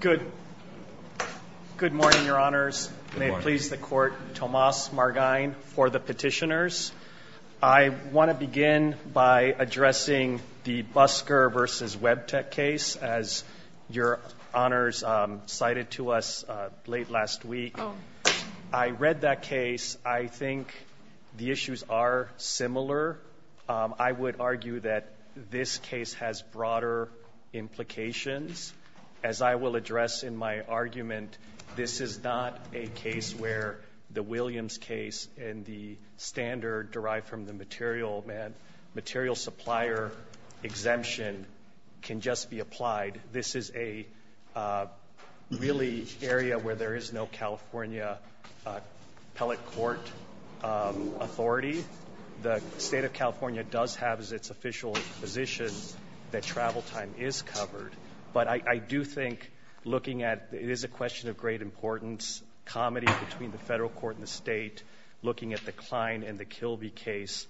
Good morning, Your Honors. May it please the Court, Tomas Margain for the petitioners. I want to begin by addressing the Busker v. Webtec case as Your Honors cited to us late last week. I read that case. I think the issues are similar. I would argue that this case has broader implications. As I will address in my argument, this is not a case where the Williams case and the standard derived from the material supplier exemption can just be applied. This is a really area where there is no California appellate court authority. The state of California does have its official position that travel time is covered. But I do think looking at, it is a question of great importance, comedy between the federal court and the state, looking at the Klein and the Kilby case,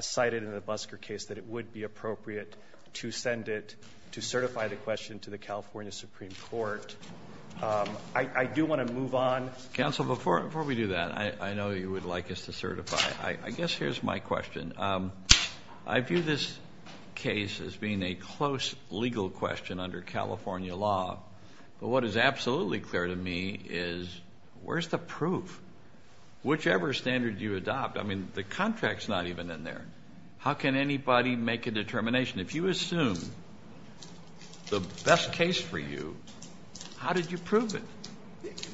cited in the Busker case, that it would be appropriate to send it to certify the question to the California Supreme Court. I do want to move on. Counsel, before we do that, I know you would like us to certify. I guess here's my question. I view this case as being a close legal question under California law. But what is absolutely clear to me is, where's the proof? Whichever standard you adopt, I mean, the contract's not even in there. How can anybody make a determination? If you assume the best case for you, how did you prove it?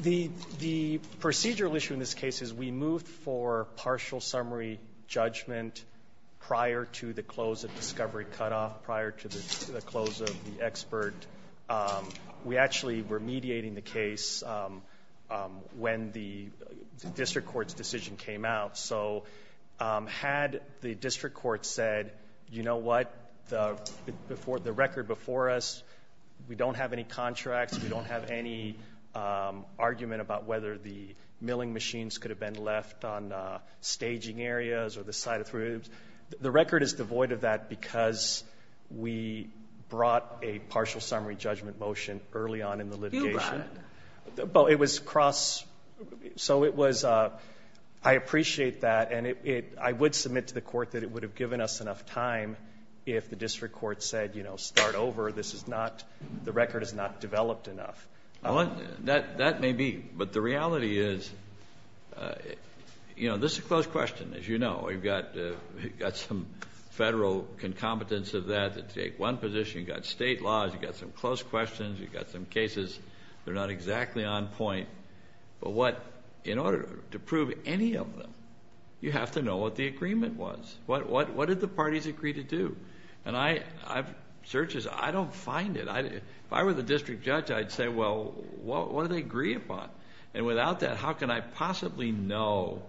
The procedural issue in this case is we moved for partial summary judgment prior to the close of discovery cutoff, prior to the close of the expert. We actually were mediating the case when the district court's decision came out. So had the district court said, you know what, the record before us, we don't have any contracts, we don't have any argument about whether the milling machines could have been left on staging areas or the side of the rooms, the record is devoid of that because we brought a partial summary judgment motion early on in the litigation. But it was cross, so it was, I appreciate that and I would submit to the court that it would have given us enough time if the district court said, you know, start over, this is not, the record is not developed enough. I want, that, that may be, but the reality is, you know, this is a close question, as you know, we've got, we've got some federal concomitants of that that take one position, you've got state laws, you've got some close questions, you've got some cases. They're not exactly on point. But what, in order to prove any of them, you have to know what the agreement was. What, what, what did the parties agree to do? And I, I've, searches, I don't find it. I, if I were the district judge, I'd say, well, what, what do they agree upon? And without that, how can I possibly know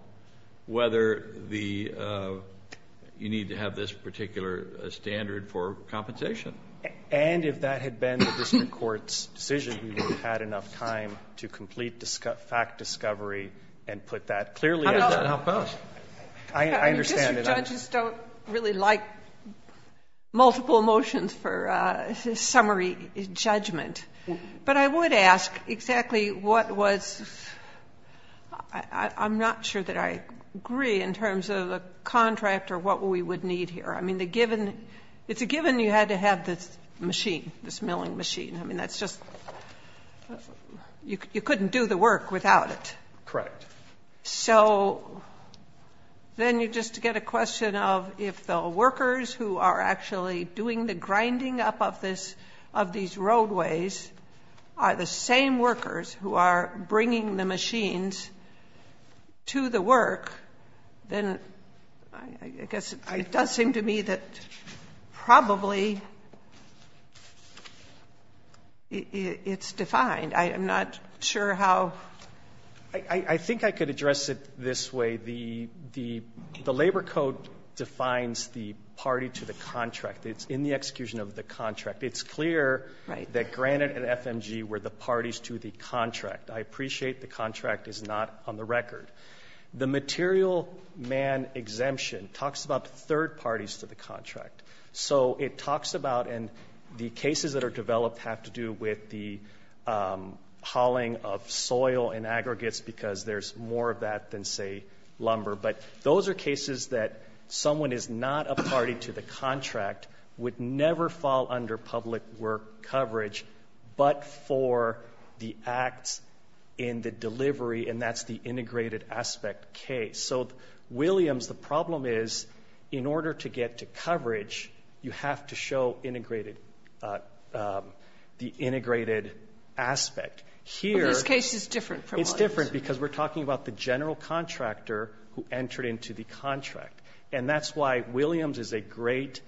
whether the, you need to have this particular standard for compensation? And if that had been the district court's decision, we would have had enough time to complete disco, fact discovery and put that clearly out in the outpost. I, I understand it. Judges don't really like multiple motions for summary judgment. But I would ask exactly what was, I'm not sure that I agree in terms of a contract or what we would need here. I mean, the given, it's a given you had to have this machine, this milling machine. I mean, that's just, you couldn't do the work without it. Correct. So, then you just get a question of if the workers who are actually doing the grinding up of this, of these roadways are the same workers who are bringing the machines to the work. Then, I guess, it does seem to me that probably it's defined. I am not sure how. I, I think I could address it this way. The, the, the labor code defines the party to the contract. It's in the execution of the contract. It's clear that Granite and FMG were the parties to the contract. I appreciate the contract is not on the record. So, it talks about, and the cases that are developed have to do with the hauling of soil and aggregates because there's more of that than, say, lumber. But those are cases that someone is not a party to the contract, would never fall under public work coverage, but for the acts in the delivery. And that's the integrated aspect case. So, Williams, the problem is, in order to get to coverage, you have to show integrated, the integrated aspect. Here- In this case, it's different from what- It's different because we're talking about the general contractor who entered into the contract. And that's why Williams is a great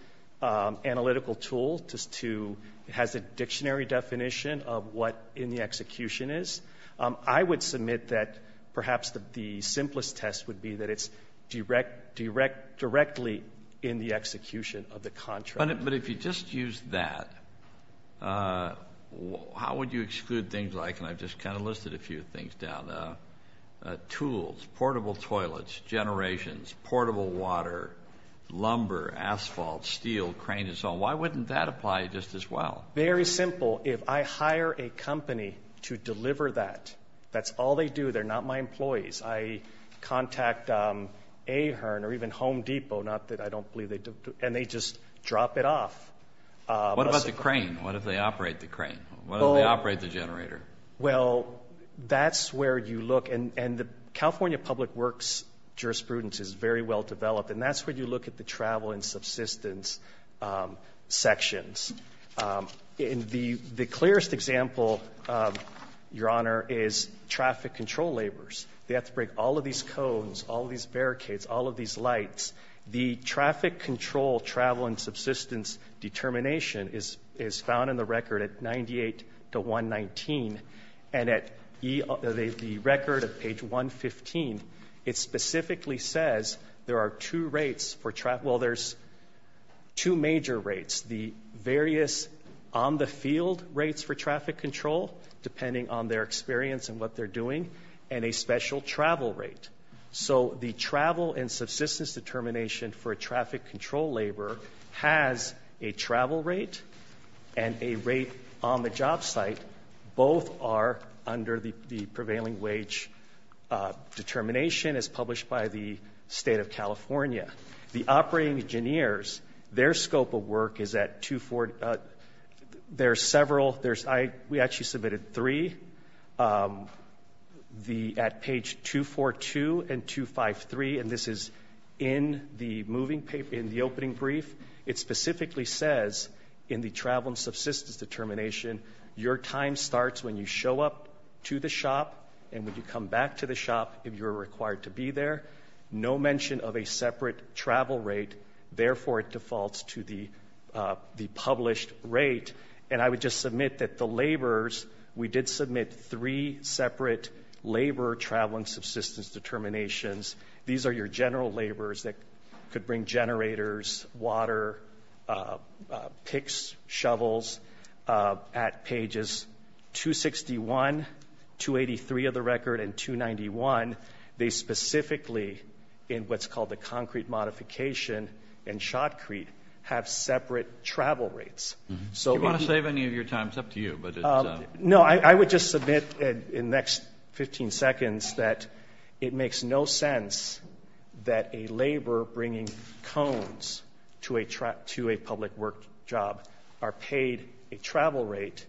analytical tool to, has a dictionary definition of what in the execution is. I would submit that perhaps the simplest test would be that it's directly in the execution of the contract. But if you just use that, how would you exclude things like, and I've just kind of listed a few things down, tools, portable toilets, generations, portable water, lumber, asphalt, steel, cranes and so on. Why wouldn't that apply just as well? Very simple. If I hire a company to deliver that, that's all they do. They're not my employees. I contact Ahern or even Home Depot, not that I don't believe they do, and they just drop it off. What about the crane? What if they operate the crane? What if they operate the generator? Well, that's where you look, and the California Public Works jurisprudence is very well developed. And that's where you look at the travel and subsistence sections. The clearest example, Your Honor, is traffic control labors. They have to break all of these cones, all of these barricades, all of these lights. The traffic control travel and subsistence determination is found in the record at 98 to 119, and at the record at page 115, it specifically says there are two routes for traffic, well, there's two major routes, the various on-the-field routes for traffic control, depending on their experience and what they're doing, and a special travel route. So the travel and subsistence determination for a traffic control laborer has a travel rate and a rate on the job site. Both are under the prevailing wage determination, as published by the State of California. The operating engineers, their scope of work is at 24, there are several, we actually submitted three at page 242 and 253, and this is in the opening brief. It specifically says in the travel and subsistence determination, your time starts when you show up to the shop, and when you come back to the shop, if you're required to be there. No mention of a separate travel rate, therefore it defaults to the published rate. And I would just submit that the laborers, we did submit three separate laborer travel and subsistence determinations. These are your general laborers that could bring generators, water, picks, shovels, at pages 261, 283 of the record, and 291, they specifically, in what's called the concrete modification in Shotcrete, have separate travel rates. So if you want to save any of your time, it's up to you, but it's a. No, I would just submit in the next 15 seconds that it makes no sense that a laborer bringing cones to a public work job are paid a travel rate,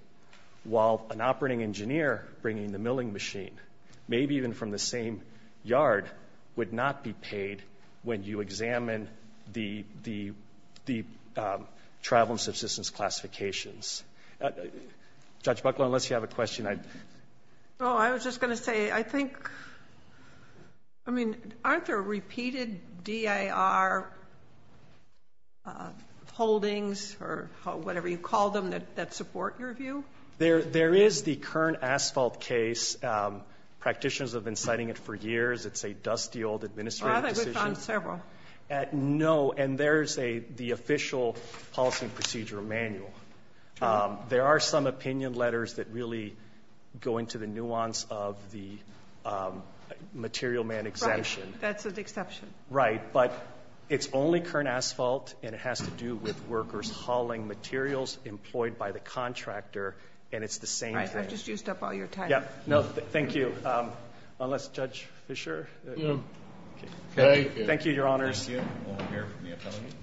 while an operating engineer bringing the milling machine, maybe even from the same yard, would not be paid when you examine the travel and subsistence classifications. Judge Buckler, unless you have a question, I'd — Oh, I was just going to say, I think, I mean, aren't there repeated D.A.R. holdings or whatever you call them that support your view? There is the current asphalt case. Practitioners have been citing it for years. It's a dusty old administrative decision. Oh, I think we've found several. No, and there's the official policy and procedure manual. There are some opinion letters that really go into the nuance of the material man exemption. Right. That's an exception. Right. But it's only current asphalt, and it has to do with workers hauling materials employed by the contractor, and it's the same thing. Right. I've just used up all your time. Yeah. No, thank you. Unless Judge Fischer — No. Okay. Thank you, Your Honors. Thank you. We'll hear from the appellant.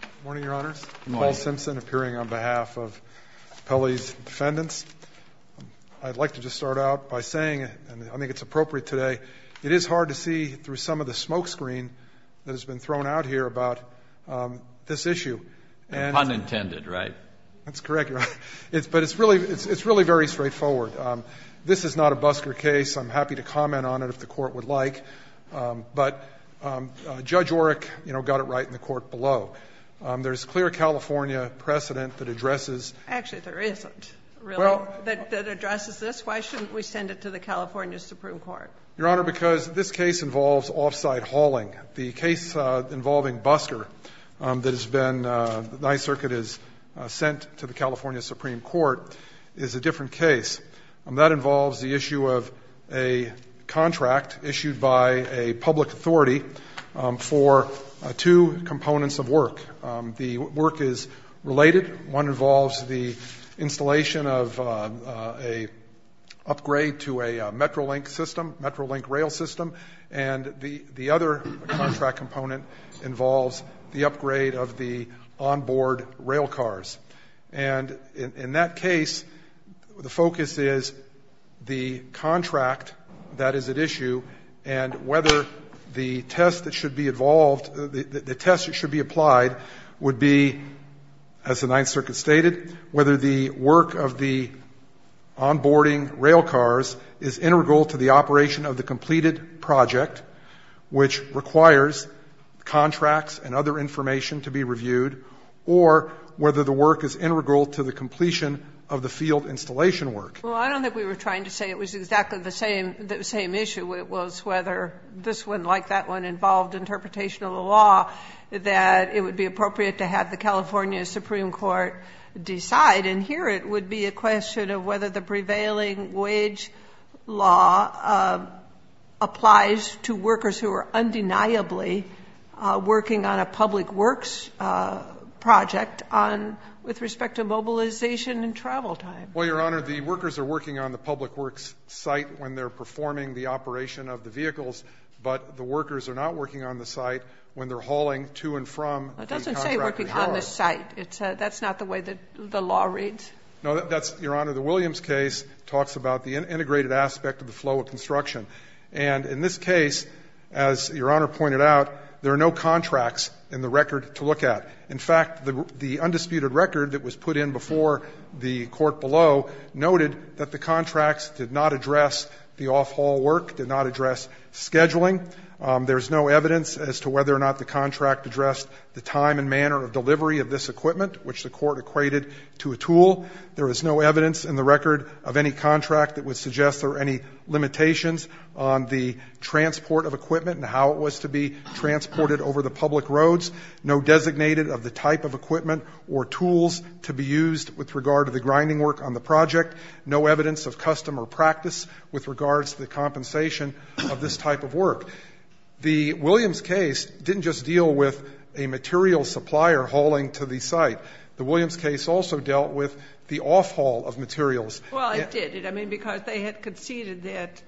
Good morning, Your Honors. Paul Simpson, appearing on behalf of Appellee's Defendants. I'd like to just start out by saying, and I think it's appropriate today, it is hard to see through some of the smoke screen that has been thrown out here about this issue. Pun intended, right? That's correct, Your Honor. But it's really very straightforward. This is not a Busker case. I'm happy to comment on it if the Court would like, but Judge Oreck, you know, got it right in the court below. There's clear California precedent that addresses — Actually, there isn't, really, that addresses this. Why shouldn't we send it to the California Supreme Court? Your Honor, because this case involves off-site hauling. The case involving Busker that has been — the Ninth Circuit has sent to the California Supreme Court is a different case. That involves the issue of a contract issued by a public authority for two components of work. The work is related. One involves the installation of an upgrade to a Metrolink system, Metrolink rail system, and the other contract component involves the upgrade of the onboard rail cars. And in that case, the focus is the contract that is at issue and whether the test that should be involved, the test that should be applied would be, as the Ninth Circuit stated, whether the work of the onboarding rail cars is integral to the operation of the completed project, which requires contracts and other information to be reviewed, or whether the work is integral to the completion of the field installation work. Well, I don't think we were trying to say it was exactly the same issue. It was whether this one, like that one, involved interpretation of the law, that it would be appropriate to have the California Supreme Court decide. And here it would be a question of whether the prevailing wage law applies to workers who are undeniably working on a public works project on — with respect to mobilization and travel time. Well, Your Honor, the workers are working on the public works site when they're performing the operation of the vehicles, but the workers are not working on the site when they're hauling to and from the contract. It doesn't say working on the site. That's not the way the law reads? No, that's — Your Honor, the Williams case talks about the integrated aspect of the flow of construction. And in this case, as Your Honor pointed out, there are no contracts in the record to look at. In fact, the undisputed record that was put in before the Court below noted that the contracts did not address the off-haul work, did not address scheduling. There is no evidence as to whether or not the contract addressed the time and manner of delivery of this equipment, which the Court equated to a tool. There is no evidence in the record of any contract that would suggest there are any limitations on the transport of equipment and how it was to be transported over the public roads, no designated of the type of equipment or tools to be used with regard to the grinding work on the project, no evidence of customer practice with regards to the compensation of this type of work. The Williams case didn't just deal with a material supplier hauling to the site. The Williams case also dealt with the off-haul of materials. Well, it did. I mean, because they had conceded that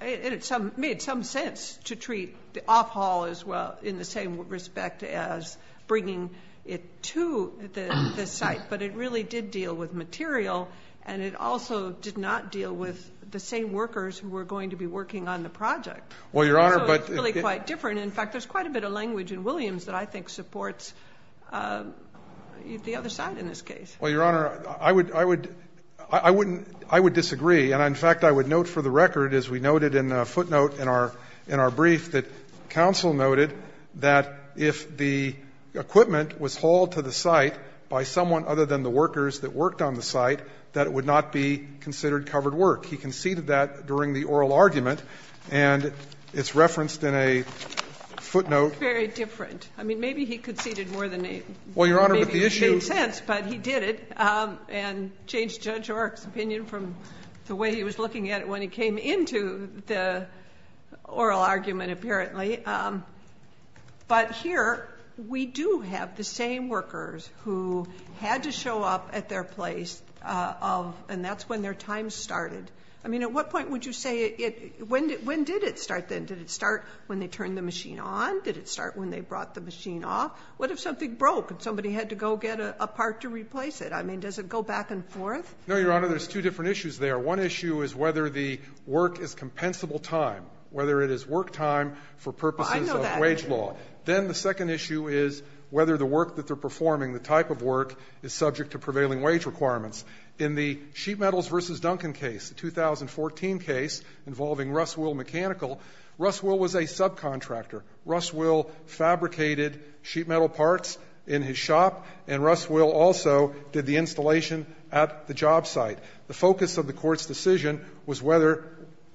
it made some sense to treat the off-haul as well in the same respect as bringing it to the site. But it really did deal with material, and it also did not deal with the same workers who were going to be working on the project. Well, Your Honor, but it's really quite different. In fact, there's quite a bit of language in Williams that I think supports the other side in this case. Well, Your Honor, I would disagree, and in fact, I would note for the record, as we noted in a footnote in our brief, that counsel noted that if the equipment was hauled to the site by someone other than the workers that worked on the site, that it would not be considered covered work. He conceded that during the oral argument, and it's referenced in a footnote. It's very different. I mean, maybe he conceded more than a few. Well, Your Honor, but the issue is that he did it, and changed Judge Ork's opinion from the way he was looking at it when he came into the oral argument, apparently. But here we do have the same workers who had to show up at their place of and that's when their time started. I mean, at what point would you say it when did it start then? Did it start when they turned the machine on? Did it start when they brought the machine off? What if something broke and somebody had to go get a part to replace it? I mean, does it go back and forth? No, Your Honor. There's two different issues there. One issue is whether the work is compensable time, whether it is work time for purposes of wage law. Then the second issue is whether the work that they're performing, the type of work, is subject to prevailing wage requirements. In the Sheet Metals v. Duncan case, the 2014 case involving Russ Will Mechanical, Russ Will was a subcontractor. Russ Will fabricated sheet metal parts in his shop, and Russ Will also did the installation at the job site. The focus of the Court's decision was whether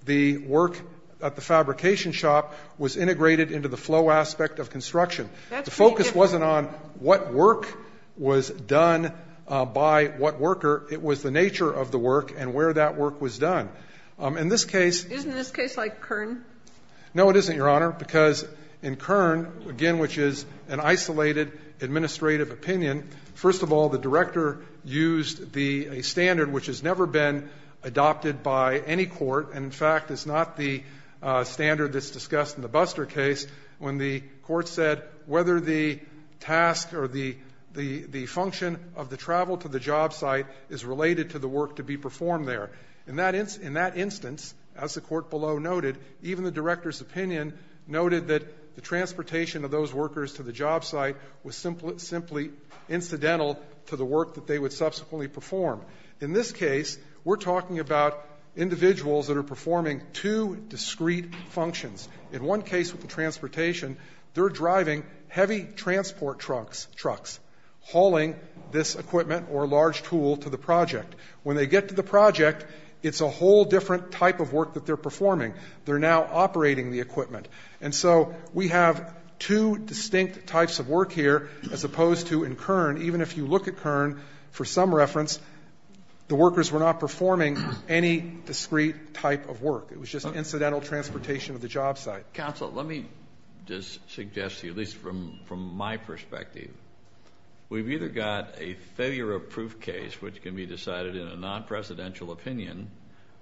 the work at the fabrication shop was integrated into the flow aspect of construction. The focus wasn't on what work was done by what worker. It was the nature of the work and where that work was done. In this case the case like Kern? No, it isn't, Your Honor, because in Kern, again, which is an isolated administrative opinion, first of all, the director used the standard which has never been adopted by any court, and in fact is not the standard that's discussed in the Buster case, when the Court said whether the task or the function of the travel to the job site is related to the work to be performed there. In that instance, as the Court below noted, even the director's opinion noted that the transportation of those workers to the job site was simply incidental to the work that they would subsequently perform. In this case, we're talking about individuals that are performing two discrete functions. In one case with the transportation, they're driving heavy transport trucks, hauling this equipment or large tool to the project. When they get to the project, it's a whole different type of work that they're performing. They're now operating the equipment. And so we have two distinct types of work here as opposed to in Kern. Even if you look at Kern, for some reference, the workers were not performing any discrete type of work. It was just an incidental transportation of the job site. Counsel, let me just suggest to you, at least from my perspective, we've either got a failure-proof case which can be decided in a non-presidential opinion,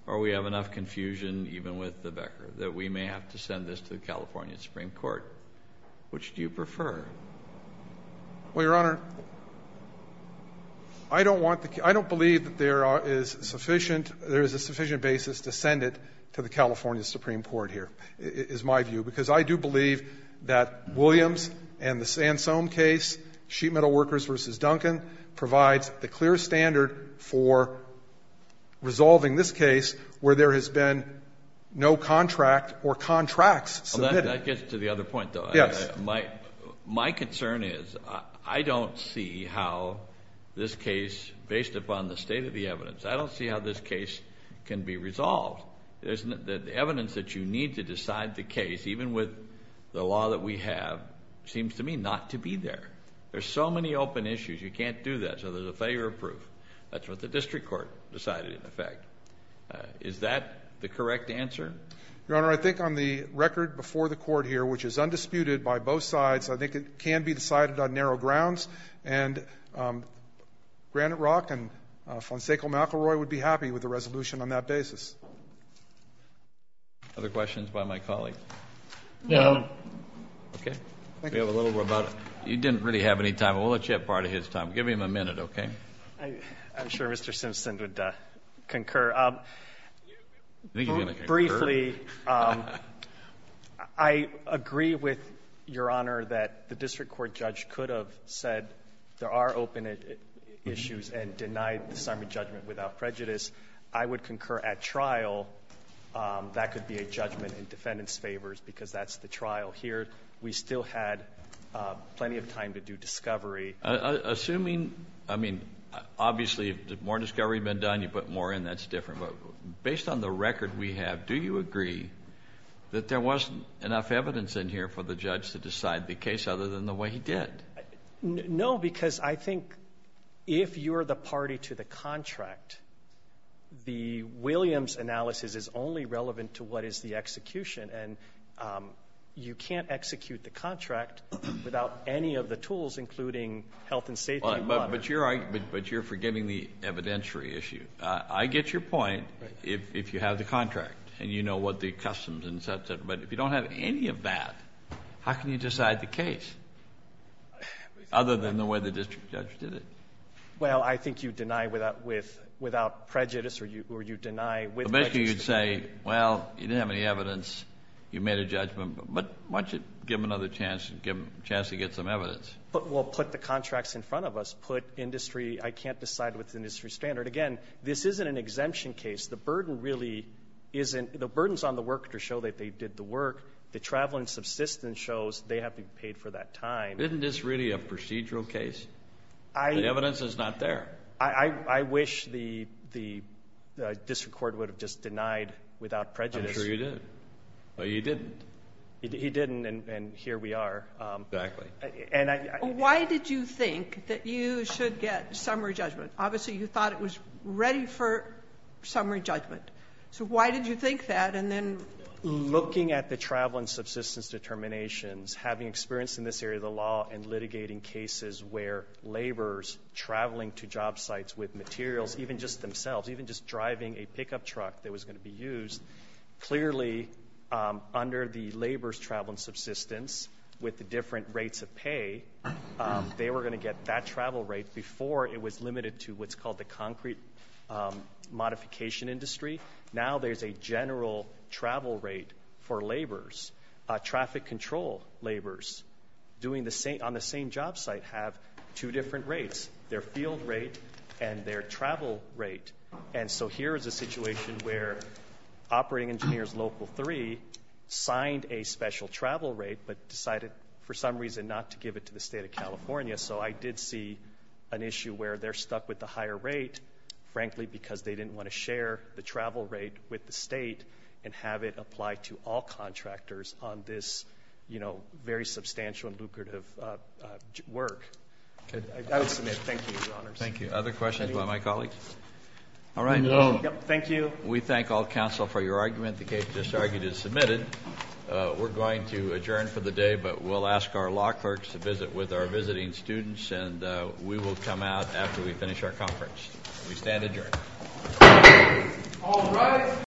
or we have enough confusion, even with the Becker, that we may have to send this to the California Supreme Court. Which do you prefer? Well, Your Honor, I don't want the – I don't believe that there is sufficient – there is a sufficient basis to send it to the California Supreme Court here, is my view, because I do believe that Williams and the Sansome case, sheet metal workers versus Duncan, provides the clear standard for resolving this case where there has been no contract or contracts submitted. Well, that gets to the other point, though. Yes. My concern is I don't see how this case, based upon the state of the evidence, I don't see how this case can be resolved. The evidence that you need to decide the case, even with the law that we have, seems to me not to be there. There are so many open issues, you can't do that, so there's a failure of proof. That's what the district court decided, in effect. Is that the correct answer? Your Honor, I think on the record before the Court here, which is undisputed by both sides, I think it can be decided on narrow grounds, and Granite Rock and Fonseca McElroy would be happy with a resolution on that basis. Other questions by my colleagues? No. Okay. Thank you. We have a little more about it. You didn't really have any time. We'll let you have part of his time. Give him a minute, okay? I'm sure Mr. Simpson would concur. I think he's going to concur. Briefly, I agree with Your Honor that the district court judge could have said there are open issues and denied the assignment judgment without prejudice. I would concur at trial that could be a judgment in defendant's favors because that's the trial. Here, we still had plenty of time to do discovery. Assuming, I mean, obviously, more discovery had been done, you put more in. That's different. But based on the record we have, do you agree that there wasn't enough evidence in here for the judge to decide the case other than the way he did? No, because I think if you're the party to the contract, the Williams analysis is only relevant to what is the execution. And you can't execute the contract without any of the tools, including health and safety monitor. But you're forgiving the evidentiary issue. I get your point if you have the contract, and you know what the customs and such, but if you don't have any of that, how can you decide the case other than the way the district judge did it? Well, I think you deny without prejudice or you deny with prejudice. So basically, you'd say, well, you didn't have any evidence. You made a judgment, but why don't you give them another chance to get some evidence? But we'll put the contracts in front of us. Put industry, I can't decide what's industry standard. Again, this isn't an exemption case. The burden really isn't. The burden's on the worker to show that they did the work. The travel and subsistence shows they have been paid for that time. Isn't this really a procedural case? The evidence is not there. I wish the district court would have just denied without prejudice. I'm sure you did. But you didn't. He didn't, and here we are. Exactly. Why did you think that you should get summary judgment? Obviously, you thought it was ready for summary judgment. So why did you think that? And then you know. Looking at the travel and subsistence determinations, having experience in this area of the law, and litigating cases where laborers traveling to job sites with materials, even just themselves, even just driving a pickup truck that was going to be used, clearly under the labor's travel and subsistence with the different rates of pay, they were going to get that travel rate before it was limited to what's called the concrete modification industry. Now there's a general travel rate for laborers. Traffic control laborers on the same job site have two different rates. Their field rate and their travel rate. And so here is a situation where operating engineers local three signed a special travel rate, but decided for some reason not to give it to the state of California. So I did see an issue where they're stuck with the higher rate, frankly, because they didn't want to share the travel rate with the state and have it applied to all contractors on this, you know, very substantial and lucrative work. I would submit. Thank you, Your Honors. Thank you. Other questions by my colleagues? All right. Thank you. We thank all counsel for your argument. The case just argued is submitted. We're going to adjourn for the day, but we'll ask our law clerks to visit with our visiting students, and we will come out after we finish our conference. We stand adjourned. All right.